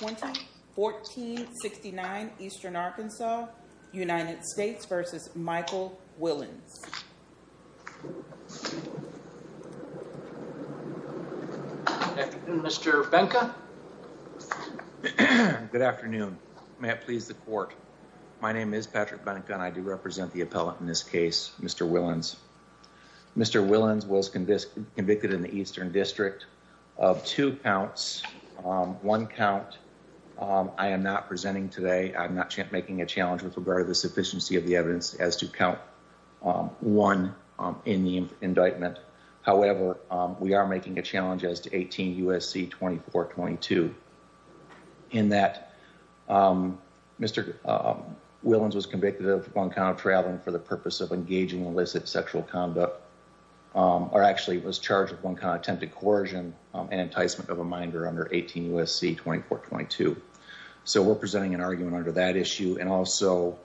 1469 Eastern Arkansas United States v. Michael Willins Mr. Benka. Good afternoon. May it please the court. My name is Patrick Benka and I do represent the appellate in this case, Mr. Willins. Mr. Willins was convicted in the Eastern District of two counts. One count I am not presenting today. I'm not making a challenge with regard to the sufficiency of the evidence as to count one in the indictment. However, we are making a challenge as to 18 U.S.C. 2422 in that Mr. Willins was convicted of one count of traveling for the purpose of engaging in illicit sexual conduct or actually was charged with one kind of attempted coercion and enticement of a minder under 18 U.S.C. 2422. So we're presenting an argument under that issue. And also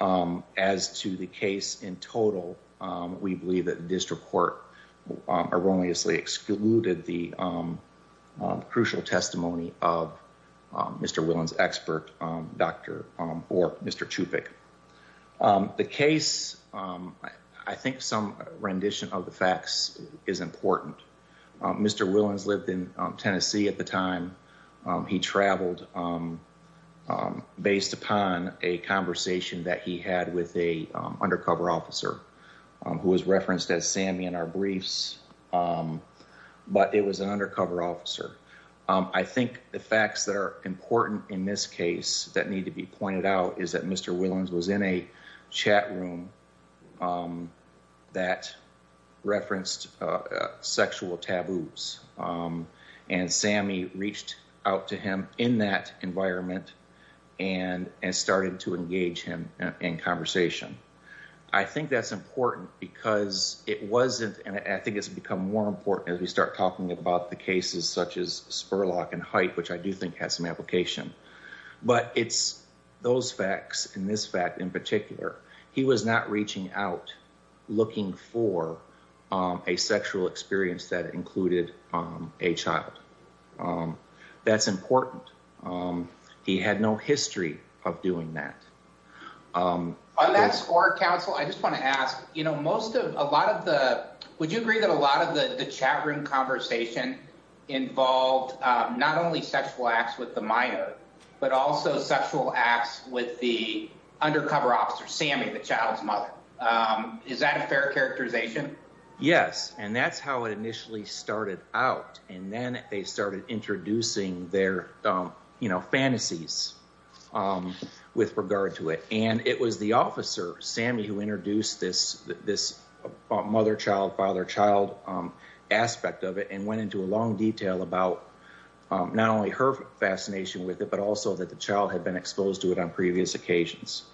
as to the case in total, we believe that district court erroneously excluded the crucial testimony of Mr. Willins' expert, Dr. or Mr. Chupik. The case, I think some rendition of the facts is important. Mr. Willins lived in Tennessee at the time. He traveled based upon a conversation that he had with a undercover officer who was referenced as Sammy in our briefs, but it was an undercover officer. I think the facts that are in a chat room that referenced sexual taboos and Sammy reached out to him in that environment and started to engage him in conversation. I think that's important because it wasn't, and I think it's become more important as we start talking about the cases such as in particular, he was not reaching out looking for a sexual experience that included a child. That's important. He had no history of doing that. On that score, counsel, I just want to ask, would you agree that a lot of the chat room conversation involved not only sexual acts with the minor, but also sexual acts with the undercover officer, Sammy, the child's mother. Is that a fair characterization? Yes. That's how it initially started out. Then they started introducing their fantasies with regard to it. It was the officer, about not only her fascination with it, but also that the child had been exposed to it on previous occasions.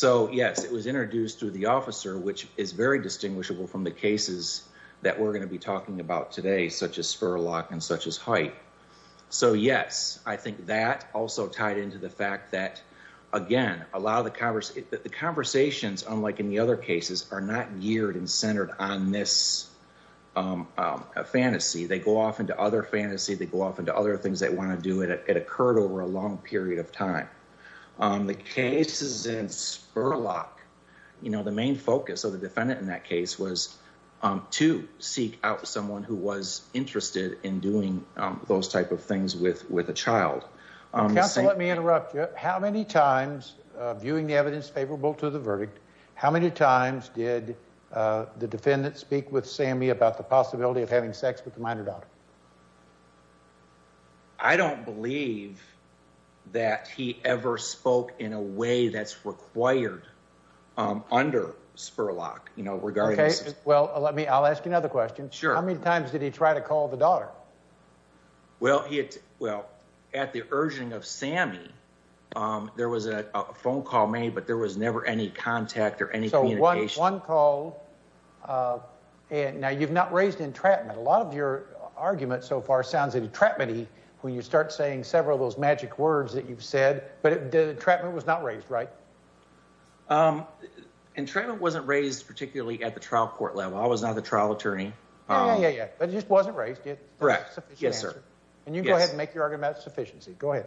Yes, it was introduced through the officer, which is very distinguishable from the cases that we're going to be talking about today, such as Spurlock and such as Hype. Yes, I think that also tied into the fact that, again, a lot of the conversations, unlike any other cases, are not geared and centered on this fantasy. They go off into other fantasy. They go off into other things they want to do. It occurred over a long period of time. The cases in Spurlock, the main focus of the defendant in that case was to seek out someone who was interested in doing those type of things with a child. Counsel, let me interrupt you. How many times, viewing the evidence favorable to the verdict, how many times did the defendant speak with Sammy about the possibility of having sex with the minor daughter? I don't believe that he ever spoke in a way that's required under Spurlock, you know, regarding this. Okay, well, let me, I'll ask you another question. Sure. How many times did he try to call the daughter? Well, at the urging of Sammy, there was a phone call made, but there was never any contact or any communication. So one call. Now, you've not raised entrapment. A lot of your argument so far sounds entrapment-y when you start saying several of those magic words that you've said, but the entrapment was not raised, right? Entrapment wasn't raised particularly at the trial court level. I was not the trial attorney. Yeah, yeah, yeah, but it just wasn't raised yet. Correct. Yes, sir. And you go ahead and make your argument about sufficiency. Go ahead.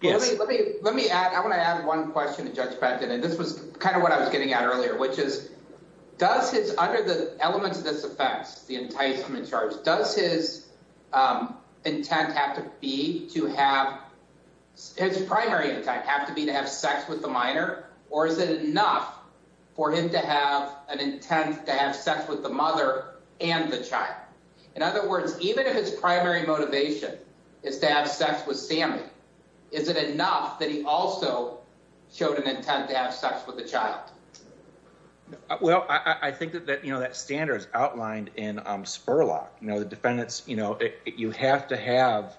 Yes. Let me, let me, let me add, I want to add one question to Judge Benton, and this was kind of what I was getting at earlier, which is, does his, under the elements of this offense, the enticement charge, does his intent have to be to have, his primary intent have to be to have sex with the mother and the child? In other words, even if his primary motivation is to have sex with Sammy, is it enough that he also showed an intent to have sex with the child? Well, I think that, that, you know, that standard is outlined in Spurlock. You know, the defendants, you know, you have to have,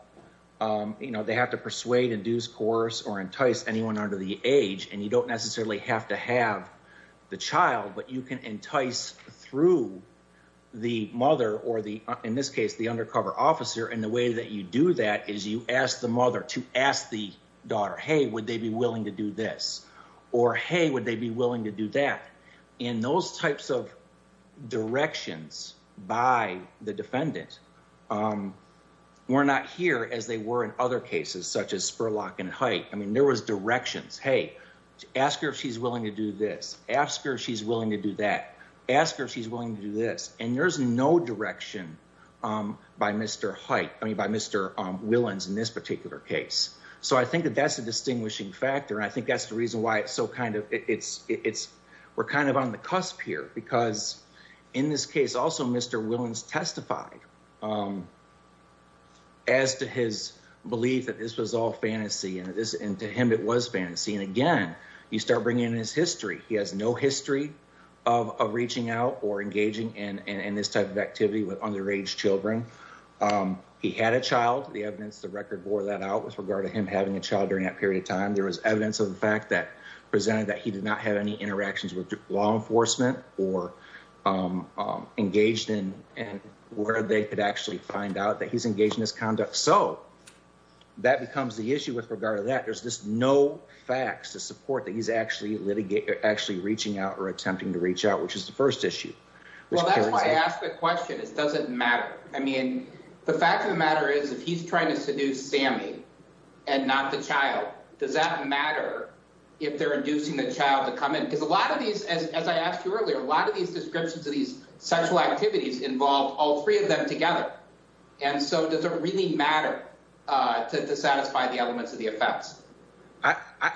you know, they have to persuade, induce, coerce, or entice anyone under the age, and you don't necessarily have to have the child, but you can entice through the mother or the, in this case, the undercover officer. And the way that you do that is you ask the mother to ask the daughter, hey, would they be willing to do this? Or, hey, would they be willing to do that? In those types of directions by the defendant, we're not here as they were in other cases, such as Spurlock and Hite. I mean, there was directions, hey, ask her if she's willing to do this, ask her if she's willing to do that, ask her if she's willing to do this. And there's no direction by Mr. Hite, I mean, by Mr. Willans in this particular case. So I think that that's a distinguishing factor. And I think that's the reason why it's so kind of, it's, it's, we're kind of on the cusp here because in this case, also Mr. Willans testified as to his belief that this was all fantasy and this, and to him, it was fantasy. And again, you start bringing in his history. He has no history of reaching out or engaging in this type of activity with underage children. He had a child, the evidence, the record wore that out with regard to him having a child during that period of time. There was evidence of the fact that presented that he did not have any interactions with law enforcement or engaged in, and where they could actually find out that he's engaged in this conduct. So that becomes the issue with regard to that. There's just no facts to support that he's actually litigating, actually reaching out or attempting to reach out, which is the first issue. Well, that's why I asked the question. It doesn't matter. I mean, the fact of the matter is if he's trying to seduce Sammy and not the child, does that matter if they're inducing the child to come in? Because a lot of these, as I asked you earlier, a lot of these descriptions of these sexual activities involve all three of them together. And so does it really matter to satisfy the elements of the effects?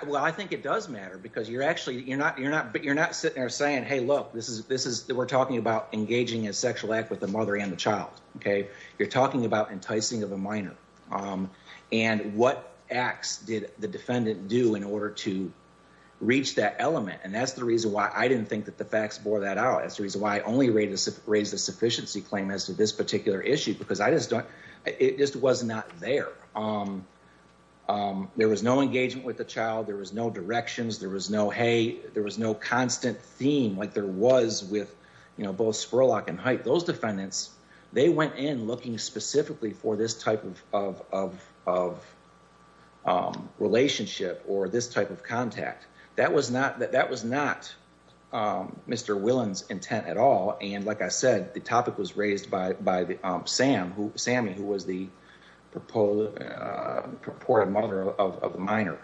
Well, I think it does matter because you're actually, you're not, you're not, but you're not sitting there saying, hey, look, this is, this is, we're talking about engaging a sexual act with the mother and the child. Okay. You're talking about enticing of a minor. And what acts did the defendant do in order to reach that element? And that's the reason why I didn't think that the facts bore that out. That's the reason why I only raised the sufficiency claim as to this particular issue, because I just don't, it just was not there. There was no engagement with the child. There was no directions. There was no, hey, there was no constant theme like there was with, you know, both Spurlock and Height. Those defendants, they went in looking specifically for this type of relationship or this type of contact. That was not, that was not Mr. Willen's intent at all. And like I said, the topic was raised by, by the Sam who, Sammy, who was the purported mother of the minor.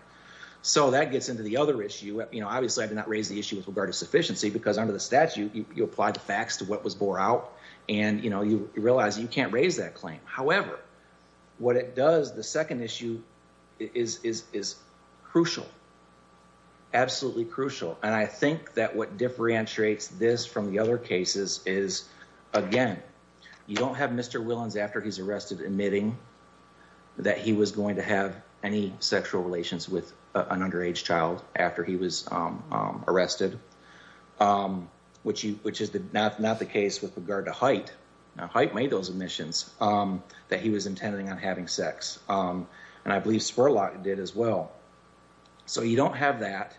So that gets into the other issue. You know, obviously I did not raise the issue with regard to sufficiency because under the statute, you apply the facts to what was bore out and, you know, you realize you can't raise that claim. However, what it does, the second issue is crucial, absolutely crucial. And I think that what differentiates this from the other cases is, again, you don't have Mr. Willen's after he's arrested admitting that he was going to have any sexual relations with an underage child after he was arrested, which is not the case with regard to Height. Now Height made those admissions that he was intending on having sex. And I believe Spurlock did as well. So you don't have that.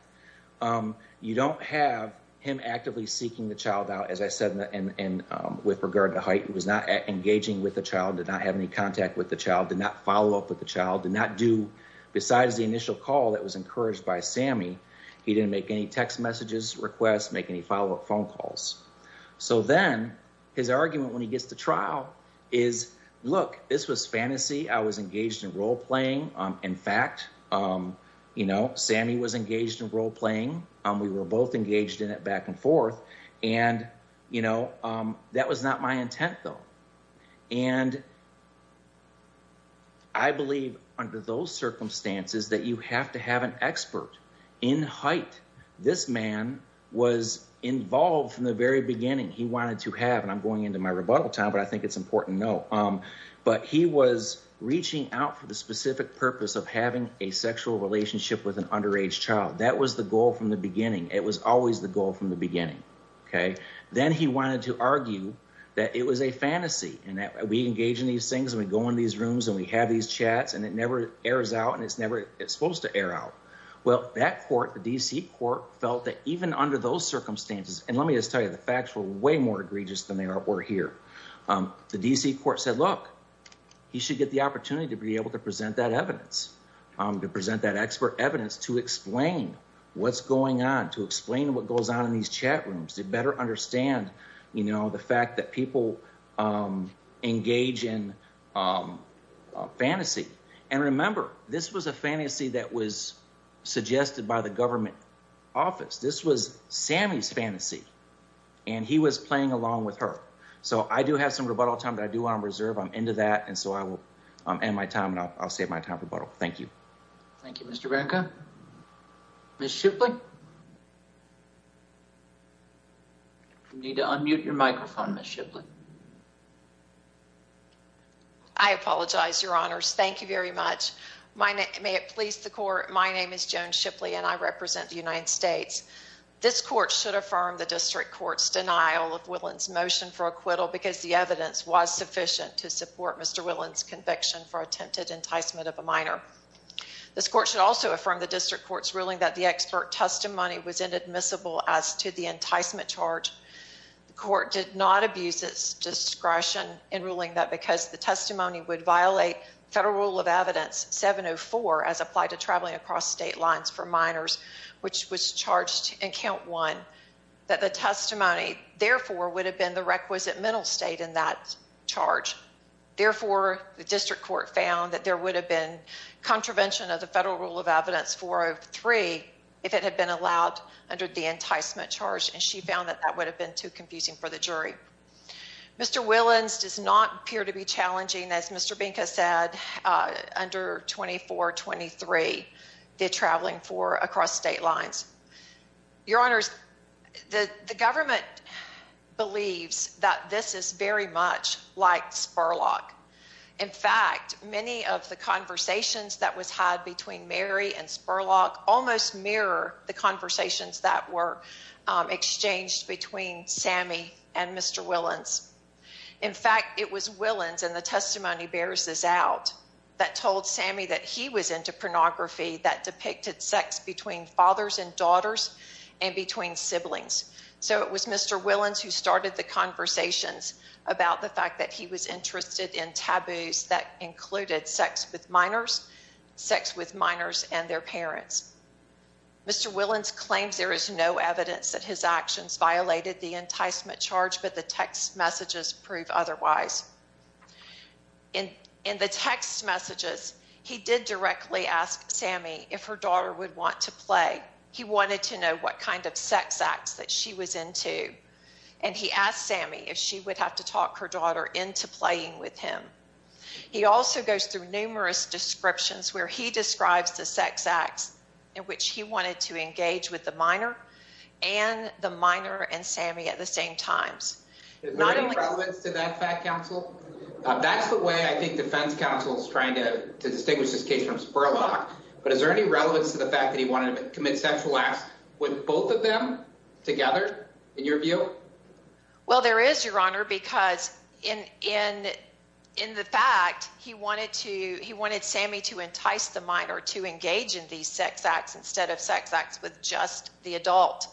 You don't have him actively seeking the child out, as I said, and with regard to Height, who was not engaging with the child, did not have any contact with the child, did not follow up with the child, did not do, besides the initial call that was he didn't make any text messages, requests, make any follow-up phone calls. So then his argument when he gets to trial is, look, this was fantasy. I was engaged in role playing. In fact, you know, Sammy was engaged in role playing. We were both engaged in it back and forth and, you know, that was not my intent though. And I believe under those in Height, this man was involved from the very beginning. He wanted to have, and I'm going into my rebuttal time, but I think it's important to know, but he was reaching out for the specific purpose of having a sexual relationship with an underage child. That was the goal from the beginning. It was always the goal from the beginning. Okay. Then he wanted to argue that it was a fantasy and that we engage in these things and we go in these rooms and we have these chats and it never airs out and it's never, it's supposed to air out. Well, that court, the DC court felt that even under those circumstances, and let me just tell you, the facts were way more egregious than they were here. The DC court said, look, he should get the opportunity to be able to present that evidence, to present that expert evidence, to explain what's going on, to explain what goes on in these chat rooms. They better understand, you know, the fact that people engage in fantasy. And remember, this was a fantasy that was suggested by the government office. This was Sammy's fantasy and he was playing along with her. So I do have some rebuttal time that I do want to reserve. I'm into that. And so I will end my time and I'll save my time for rebuttal. Thank you. Thank you, Mr. Branca. Ms. Shipley. I apologize, Your Honors. Thank you very much. May it please the court, my name is Joan Shipley and I represent the United States. This court should affirm the district court's denial of Willans' motion for acquittal because the evidence was sufficient to support Mr. Willans' conviction for attempted enticement of a minor. This court should also affirm the district court's ruling that the expert testimony was inadmissible as to the enticement charge. The court did not abuse its discretion in ruling that because the testimony would violate federal rule of evidence 704 as applied to traveling across state lines for minors, which was charged in count one, that the testimony therefore would have been the requisite mental state in that charge. Therefore, the district court found that there would have been contravention of the federal rule of evidence 403 if it had been allowed under the enticement charge and she found that that would have been too confusing for the jury. Mr. Willans does not appear to be challenging, as Mr. Branca said, under 2423, the traveling for across state lines. Your Honors, the government believes that this is very much like Spurlock. In fact, many of the conversations that was had between Mary and Sammy and Mr. Willans, in fact, it was Willans, and the testimony bears this out, that told Sammy that he was into pornography that depicted sex between fathers and daughters and between siblings. So it was Mr. Willans who started the conversations about the fact that he was interested in taboos that included sex with minors, sex with minors and their parents. Mr. Willans claims there is no evidence that his actions violated the enticement charge, but the text messages prove otherwise. In the text messages, he did directly ask Sammy if her daughter would want to play. He wanted to know what kind of sex acts that she was into, and he asked Sammy if she would have to talk her daughter into playing with him. He also goes through in which he wanted to engage with the minor and the minor and Sammy at the same times. Is there any relevance to that fact, counsel? That's the way I think defense counsel is trying to distinguish this case from Spurlock. But is there any relevance to the fact that he wanted to commit sexual acts with both of them together, in your view? Well, there is, Your Honor, because in the fact he wanted Sammy to entice the minor to engage in these sex acts instead of sex acts with just the adult.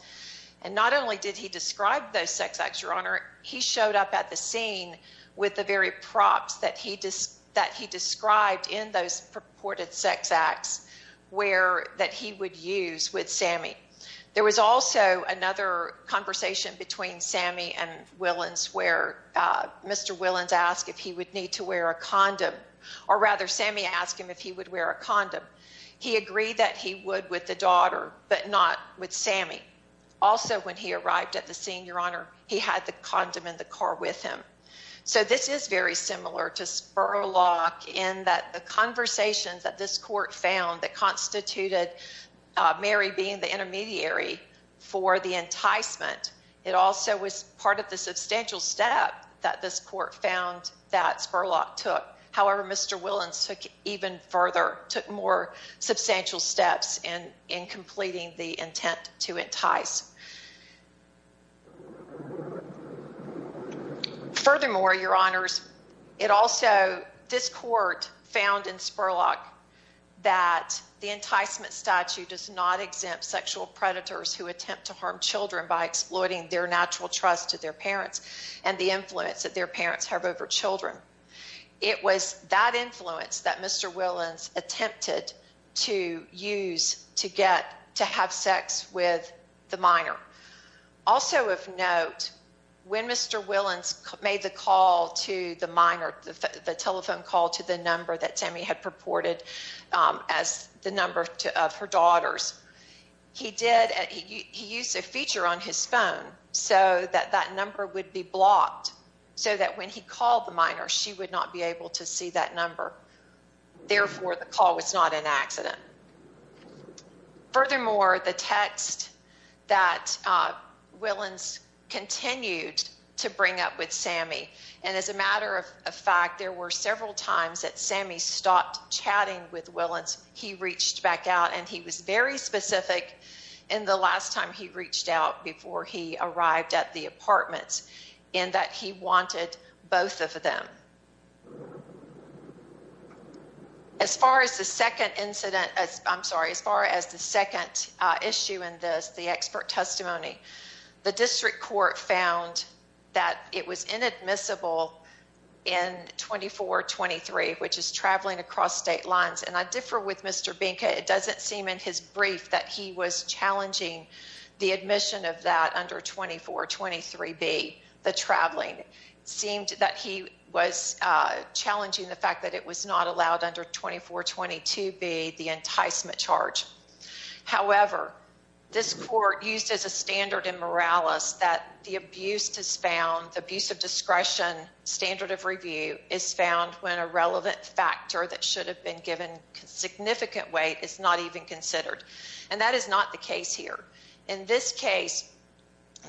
And not only did he describe those sex acts, Your Honor, he showed up at the scene with the very props that he described in those purported sex acts that he would use with another conversation between Sammy and Willans where Mr. Willans asked if he would need to wear a condom, or rather Sammy asked him if he would wear a condom. He agreed that he would with the daughter, but not with Sammy. Also, when he arrived at the scene, Your Honor, he had the condom in the car with him. So this is very similar to Spurlock in that the conversations that this court found that constituted Mary being the intermediary for the enticement, it also was part of the substantial step that this court found that Spurlock took. However, Mr. Willans took even further, took more substantial steps in completing the intent to entice. Furthermore, Your Honors, it also, this court found in Spurlock that the enticement statute does not exempt sexual predators who attempt to harm children by exploiting their natural trust to their parents and the influence that their parents have over children. It was that influence that Mr. Willans attempted to use to get to have sex with the minor. And it was that influence Also of note, when Mr. Willans made the call to the minor, the telephone call to the number that Sammy had purported as the number of her daughters, he did, he used a feature on his phone so that that number would be blocked so that when he called the minor, she would not be able to see that number. Therefore, the call was not an accident. Furthermore, the text that Willans continued to bring up with Sammy, and as a matter of fact, there were several times that Sammy stopped chatting with Willans. He reached back out and he was very specific in the last time he reached out before he arrived at the apartment in that he wanted both of them. As far as the second incident, as I'm sorry, as far as the second issue in this, the expert testimony, the district court found that it was inadmissible in 2423, which is traveling across state lines. And I differ with Mr. Binka. It doesn't seem in his brief that he was challenging the admission of that under 2423B, the traveling. It seemed that he was challenging the fact that it was not allowed under 2422B, the enticement charge. However, this court used as a standard in moralis that the abuse of discretion standard of review is found when a relevant factor that is not the case here. In this case,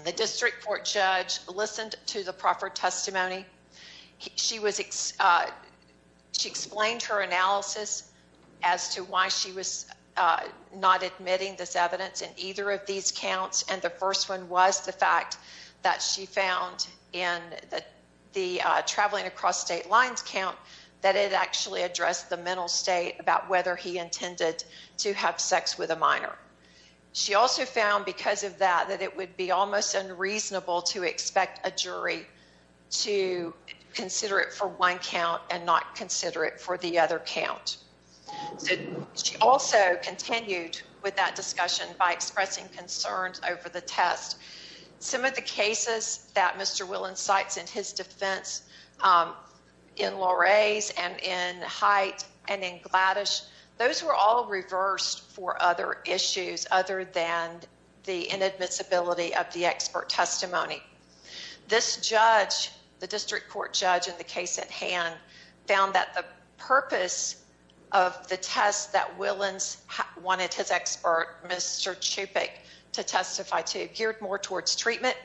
the district court judge listened to the proper testimony. She explained her analysis as to why she was not admitting this evidence in either of these counts. And the first one was the fact that she found in the traveling across state lines count that it actually addressed the mental state about whether he intended to have sex with a minor. She also found because of that, that it would be almost unreasonable to expect a jury to consider it for one count and not consider it for the other count. So she also continued with that discussion by expressing concerns over the test. Some of the cases that Mr. Willen cites in his defense in Loray's and in Hite and in Gladish, those were all reversed for other issues other than the inadmissibility of the expert testimony. This judge, the district court judge in the case at hand, found that the purpose of the test that Willens wanted his expert, Mr. Chupik, to testify to geared more towards treatment.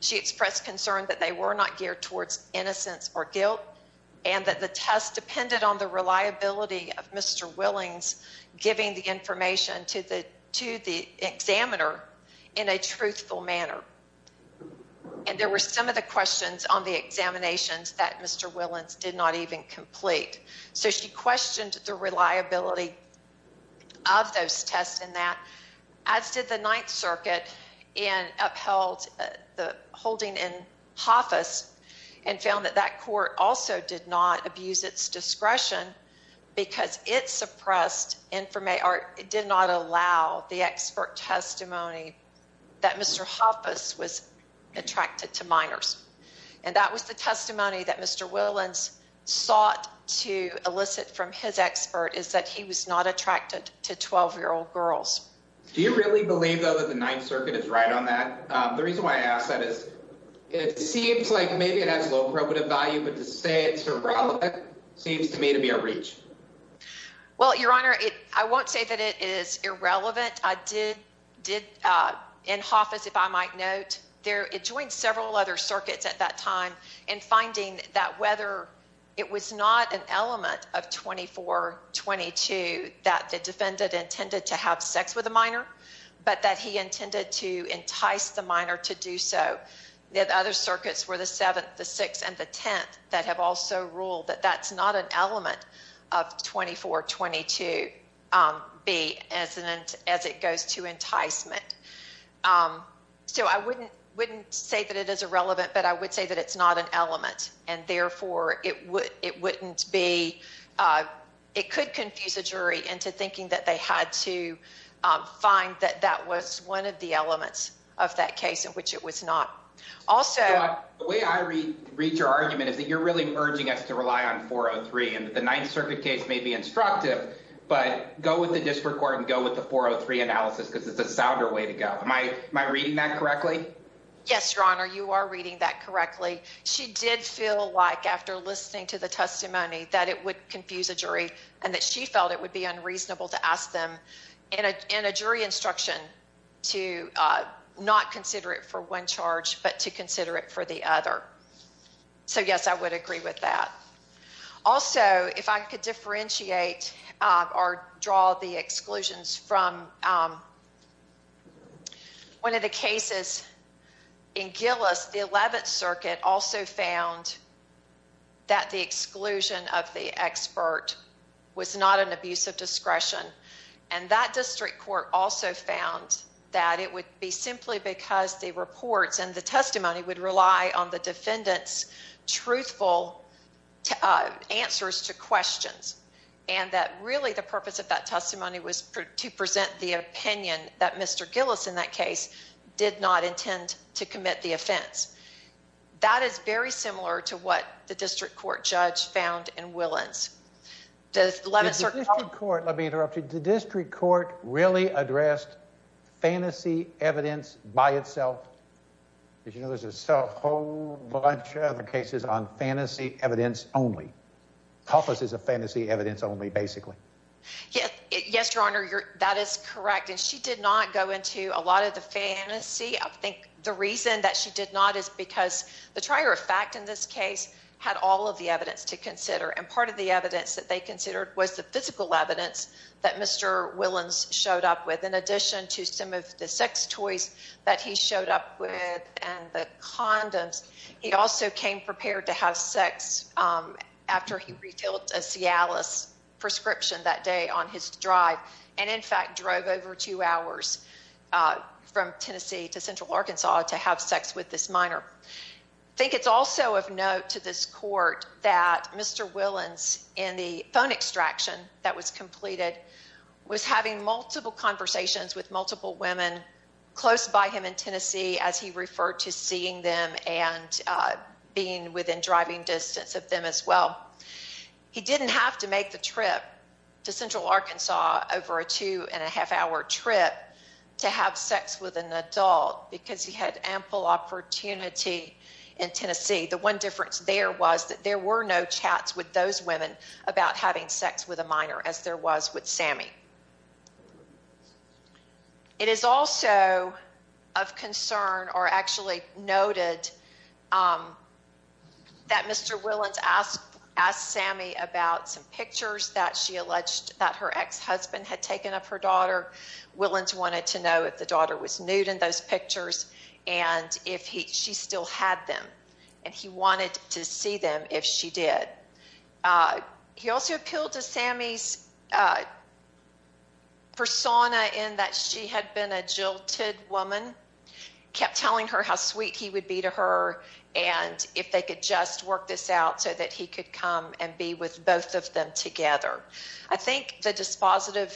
She expressed concern that they were not geared towards innocence or guilt and that the test depended on the reliability of Mr. Willens giving the information to the examiner in a truthful manner. And there were some of the questions on the examinations that Mr. Willens did not even complete. So she questioned the reliability of those tests in that, as did the Ninth Circuit and upheld the holding in Hoffice and found that that court also did not abuse its discretion because it suppressed, did not allow the expert testimony that Mr. Hoffice was attracted to minors. And that was the testimony that Mr. Willens sought to elicit from his expert is that he was not attracted to 12-year-old girls. Do you really believe though that the Ninth Circuit is right on that? The reason why I ask that is it seems like maybe it has low probative value, but to say it's irrelevant seems to me to be a reach. Well, Your Honor, I won't say that it is irrelevant. I did in Hoffice, if I might note, it joined several other circuits at that time in finding that whether it was not an element of 24-22 that the defendant intended to have sex with a minor, but that he intended to entice the minor to do so. The other circuits were the Seventh, the Sixth, and the Tenth that have also ruled that that's not an element of 24-22B as it goes to enticement. So I wouldn't say that it is irrelevant, but I would say that it's not an element, and therefore, it could confuse a jury into thinking that they had to find that that was one of the elements of that case in which it was not. Also... The way I read your argument is that you're really urging us to rely on 403 and that the Ninth Circuit case may be instructive, but go with the District Court and go with the 403 analysis because it's a sounder way to go. Am I reading that correctly? Yes, Your Honor, you are reading that correctly. She did feel like after listening to the testimony that it would confuse a jury and that she felt it would be unreasonable to ask them in a jury instruction to not consider it for one charge, but to consider it for the other. So yes, I would agree with that. Also, if I could differentiate or draw the exclusions from one of the cases in Gillis, the Eleventh Circuit also found that the exclusion of the expert was not an abuse of discretion, and that District Court also found that it would be simply because the reports and the testimony would rely on the defendant's truthful answers to questions, and that really the purpose of that testimony was to present the opinion that Mr. Gillis in that case did not intend to commit the offense. That is very similar to what the District Court judge found in Willans. Does the District Court, let me interrupt you, the District Court really addressed fantasy evidence by itself? Did you know there's a whole bunch of cases on fantasy evidence only? Helpless is a fantasy evidence only, basically. Yes, Your Honor, that is correct, and she did not go into a lot of the fantasy. I think the reason that she did not is because the trier of fact in this case had all of the evidence to consider, and part of the evidence that they considered was the physical evidence that Mr. Willans showed up with, in addition to some of the sex toys that he showed up with and the condoms. He also came prepared to have sex after he refilled a Cialis prescription that day on his drive, and in fact drove over two hours from Tennessee to Central Arkansas to have sex with this minor. I think it's also of note to this Court that Mr. Willans in the phone extraction that was completed was having multiple conversations with multiple women close by him in Tennessee as he referred to seeing them and being within driving distance of them as well. He didn't have to make the trip to Central Arkansas over a two-and-a-half-hour trip to have sex with an adult because he had ample opportunity in Tennessee. The one difference there was that there were no chats with those women about having sex with a minor as there was with Sammy. It is also of concern or actually noted that Mr. Willans asked Sammy about some pictures that she alleged that her ex-husband had taken of her daughter. Willans wanted to know if the daughter was nude in those pictures and if she still had them, and he wanted to see if she did. He also appealed to Sammy's persona in that she had been a jilted woman, kept telling her how sweet he would be to her and if they could just work this out so that he could come and be with both of them together. I think the dispositive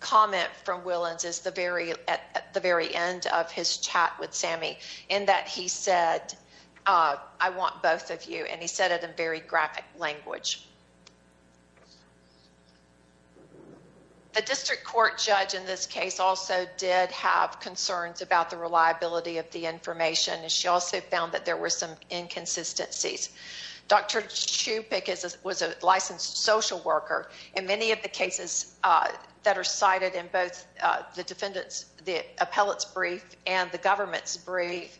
comment from Willans is at the language. The district court judge in this case also did have concerns about the reliability of the information. She also found that there were some inconsistencies. Dr. Chupik was a licensed social worker. In many of the cases that are cited in both the defendant's, the appellate's brief and the government's brief,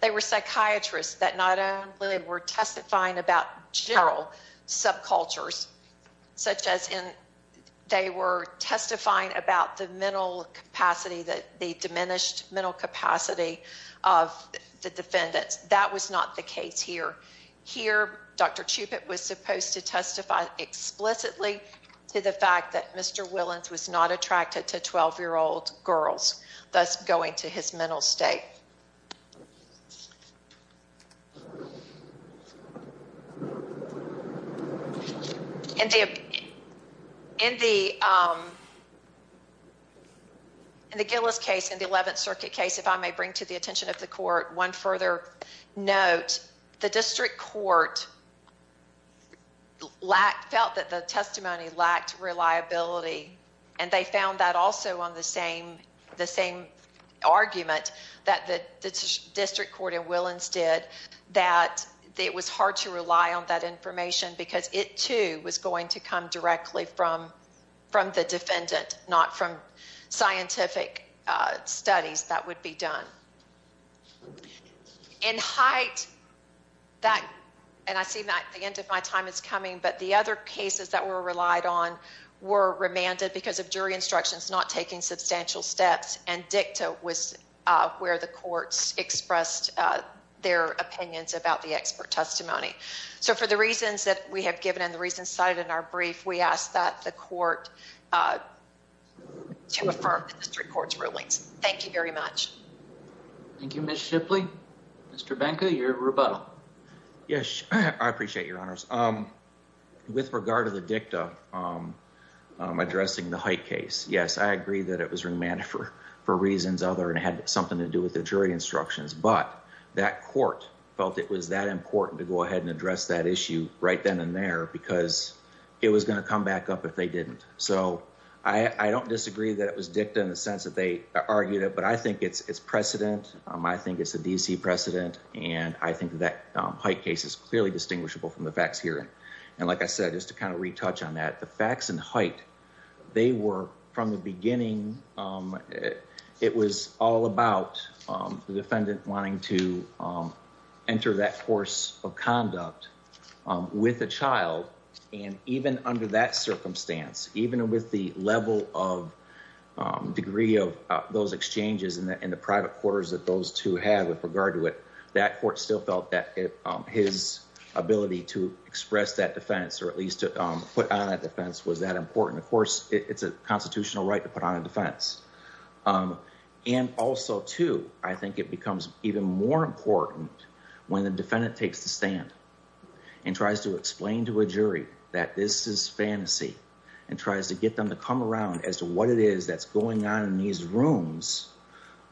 they were psychiatrists that not only were testifying about general subcultures, such as they were testifying about the diminished mental capacity of the defendants. That was not the case here. Here, Dr. Chupik was supposed to testify explicitly to the fact that the state. In the Gillis Case, in the 11th circuit case, if I may bring to the attention of the Court one further note, the district court felt that the testimony lacked reliability and they found that also on the same argument that the district court in Willans did that it was hard to rely on that information because it too was going to come directly from the defendant, not from scientific studies that would be done. In Hite, and I see the end of my time is coming, but the other cases that were relied on were remanded because of jury instructions not taking substantial steps and dicta was where the courts expressed their opinions about the expert testimony. So for the reasons that we have given and the reasons cited in our brief, we ask that the court to affirm the district court's rulings. Thank you very much. Thank you, Ms. Shipley. Mr. Benka, your rebuttal. Yes, I appreciate your honors. With regard to the dicta addressing the Hite case, yes, I agree that it was remanded for reasons other than it had something to do with the jury instructions, but that court felt it was that important to go ahead and address that issue right then and there because it was going to come back up if they didn't. So I don't disagree that it was dicta in the sense that they argued it, but I think it's precedent. I think it's a DC precedent, and I think that Hite case is clearly distinguishable from the facts here. And like I said, just to kind of retouch on that, the facts in Hite, they were from the beginning, it was all about the defendant wanting to enter that course of conduct with a child. And even under that circumstance, even with the level of degree of those exchanges in the private quarters that those two had with regard to it, that court still felt that his ability to express that defense, or at least to put on a defense, was that important. Of course, it's a constitutional right to put on a defense. And also, too, I think it becomes even more important when the defendant takes the stand and tries to explain to a jury that this is fantasy and tries to get them to come around as to what it is that's going on in these rooms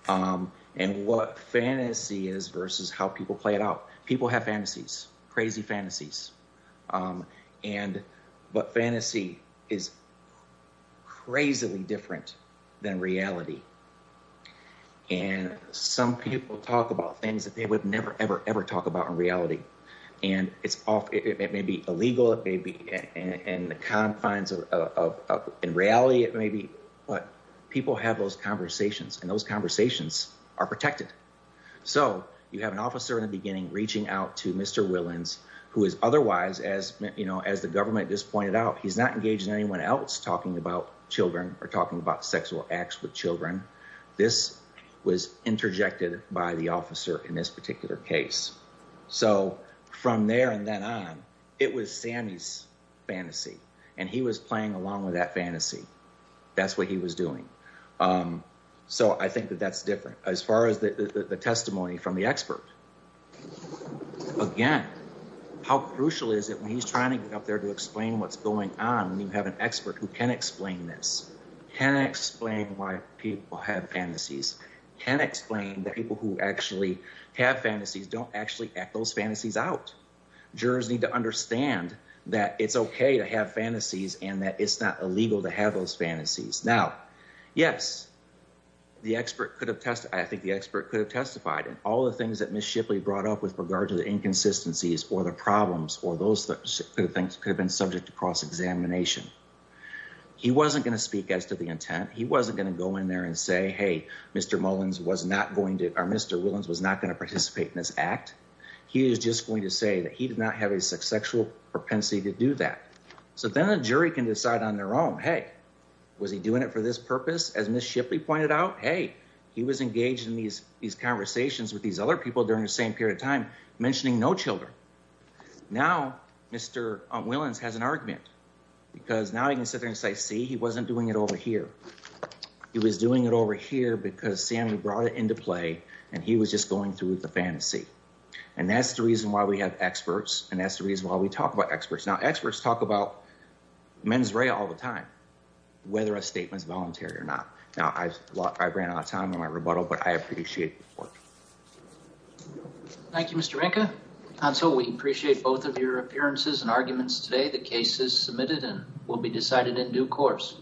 and what fantasy is versus how people play it out. People have fantasies, crazy fantasies, but fantasy is crazily different than reality. And some people talk about things that they would never, ever, ever talk about in reality, and it may be illegal, it may be in the confines of reality, it may be, but people have those conversations, and those conversations are protected. So you have an officer in the beginning reaching out to Mr. Willans, who is otherwise, as the government just pointed out, he's not engaging anyone else talking about children or talking about sexual acts with children. This was interjected by the officer in this particular case. So from there and then on, it was Sammy's fantasy, and he was playing along with that fantasy. That's what he was doing. So I think that that's different. As far as the testimony from the expert, again, how crucial is it when he's trying to get up there to explain what's going on when you have an expert who can explain this, can explain why people have fantasies, can explain that people who actually have fantasies don't actually act those fantasies out. Jurors need to understand that it's okay to have fantasies and that it's not illegal to have those fantasies. Now, yes, the expert could have – I think the expert could have testified, and all the things that Ms. Shipley brought up with regard to the inconsistencies or the problems or those things could have been subject to cross-examination. He wasn't going to speak as to the intent. He wasn't going to go in there and say, hey, Mr. Mullins was not going to – or Mr. Willans was not going to participate in this act. He was just going to say that he did not have a sexual propensity to do that. So then a jury can decide on their own, hey, was he doing it for this purpose? As Ms. Shipley pointed out, hey, he was engaged in these conversations with these other people during the same period of time, mentioning no children. Now, Mr. Willans has an argument because now he can sit there and say, see, he wasn't doing it over here. He was doing it over here because Sammy brought it into play and he was just going through with the fantasy. And that's the reason why we have experts and that's the reason why we talk about experts. Now, experts talk about mens rea all the time, whether a statement is voluntary or not. Now, I ran out of time on my rebuttal, but I appreciate the report. Thank you, Mr. Rinca. Hansel, we appreciate both of your appearances and arguments today. The case is submitted and will be decided in due course.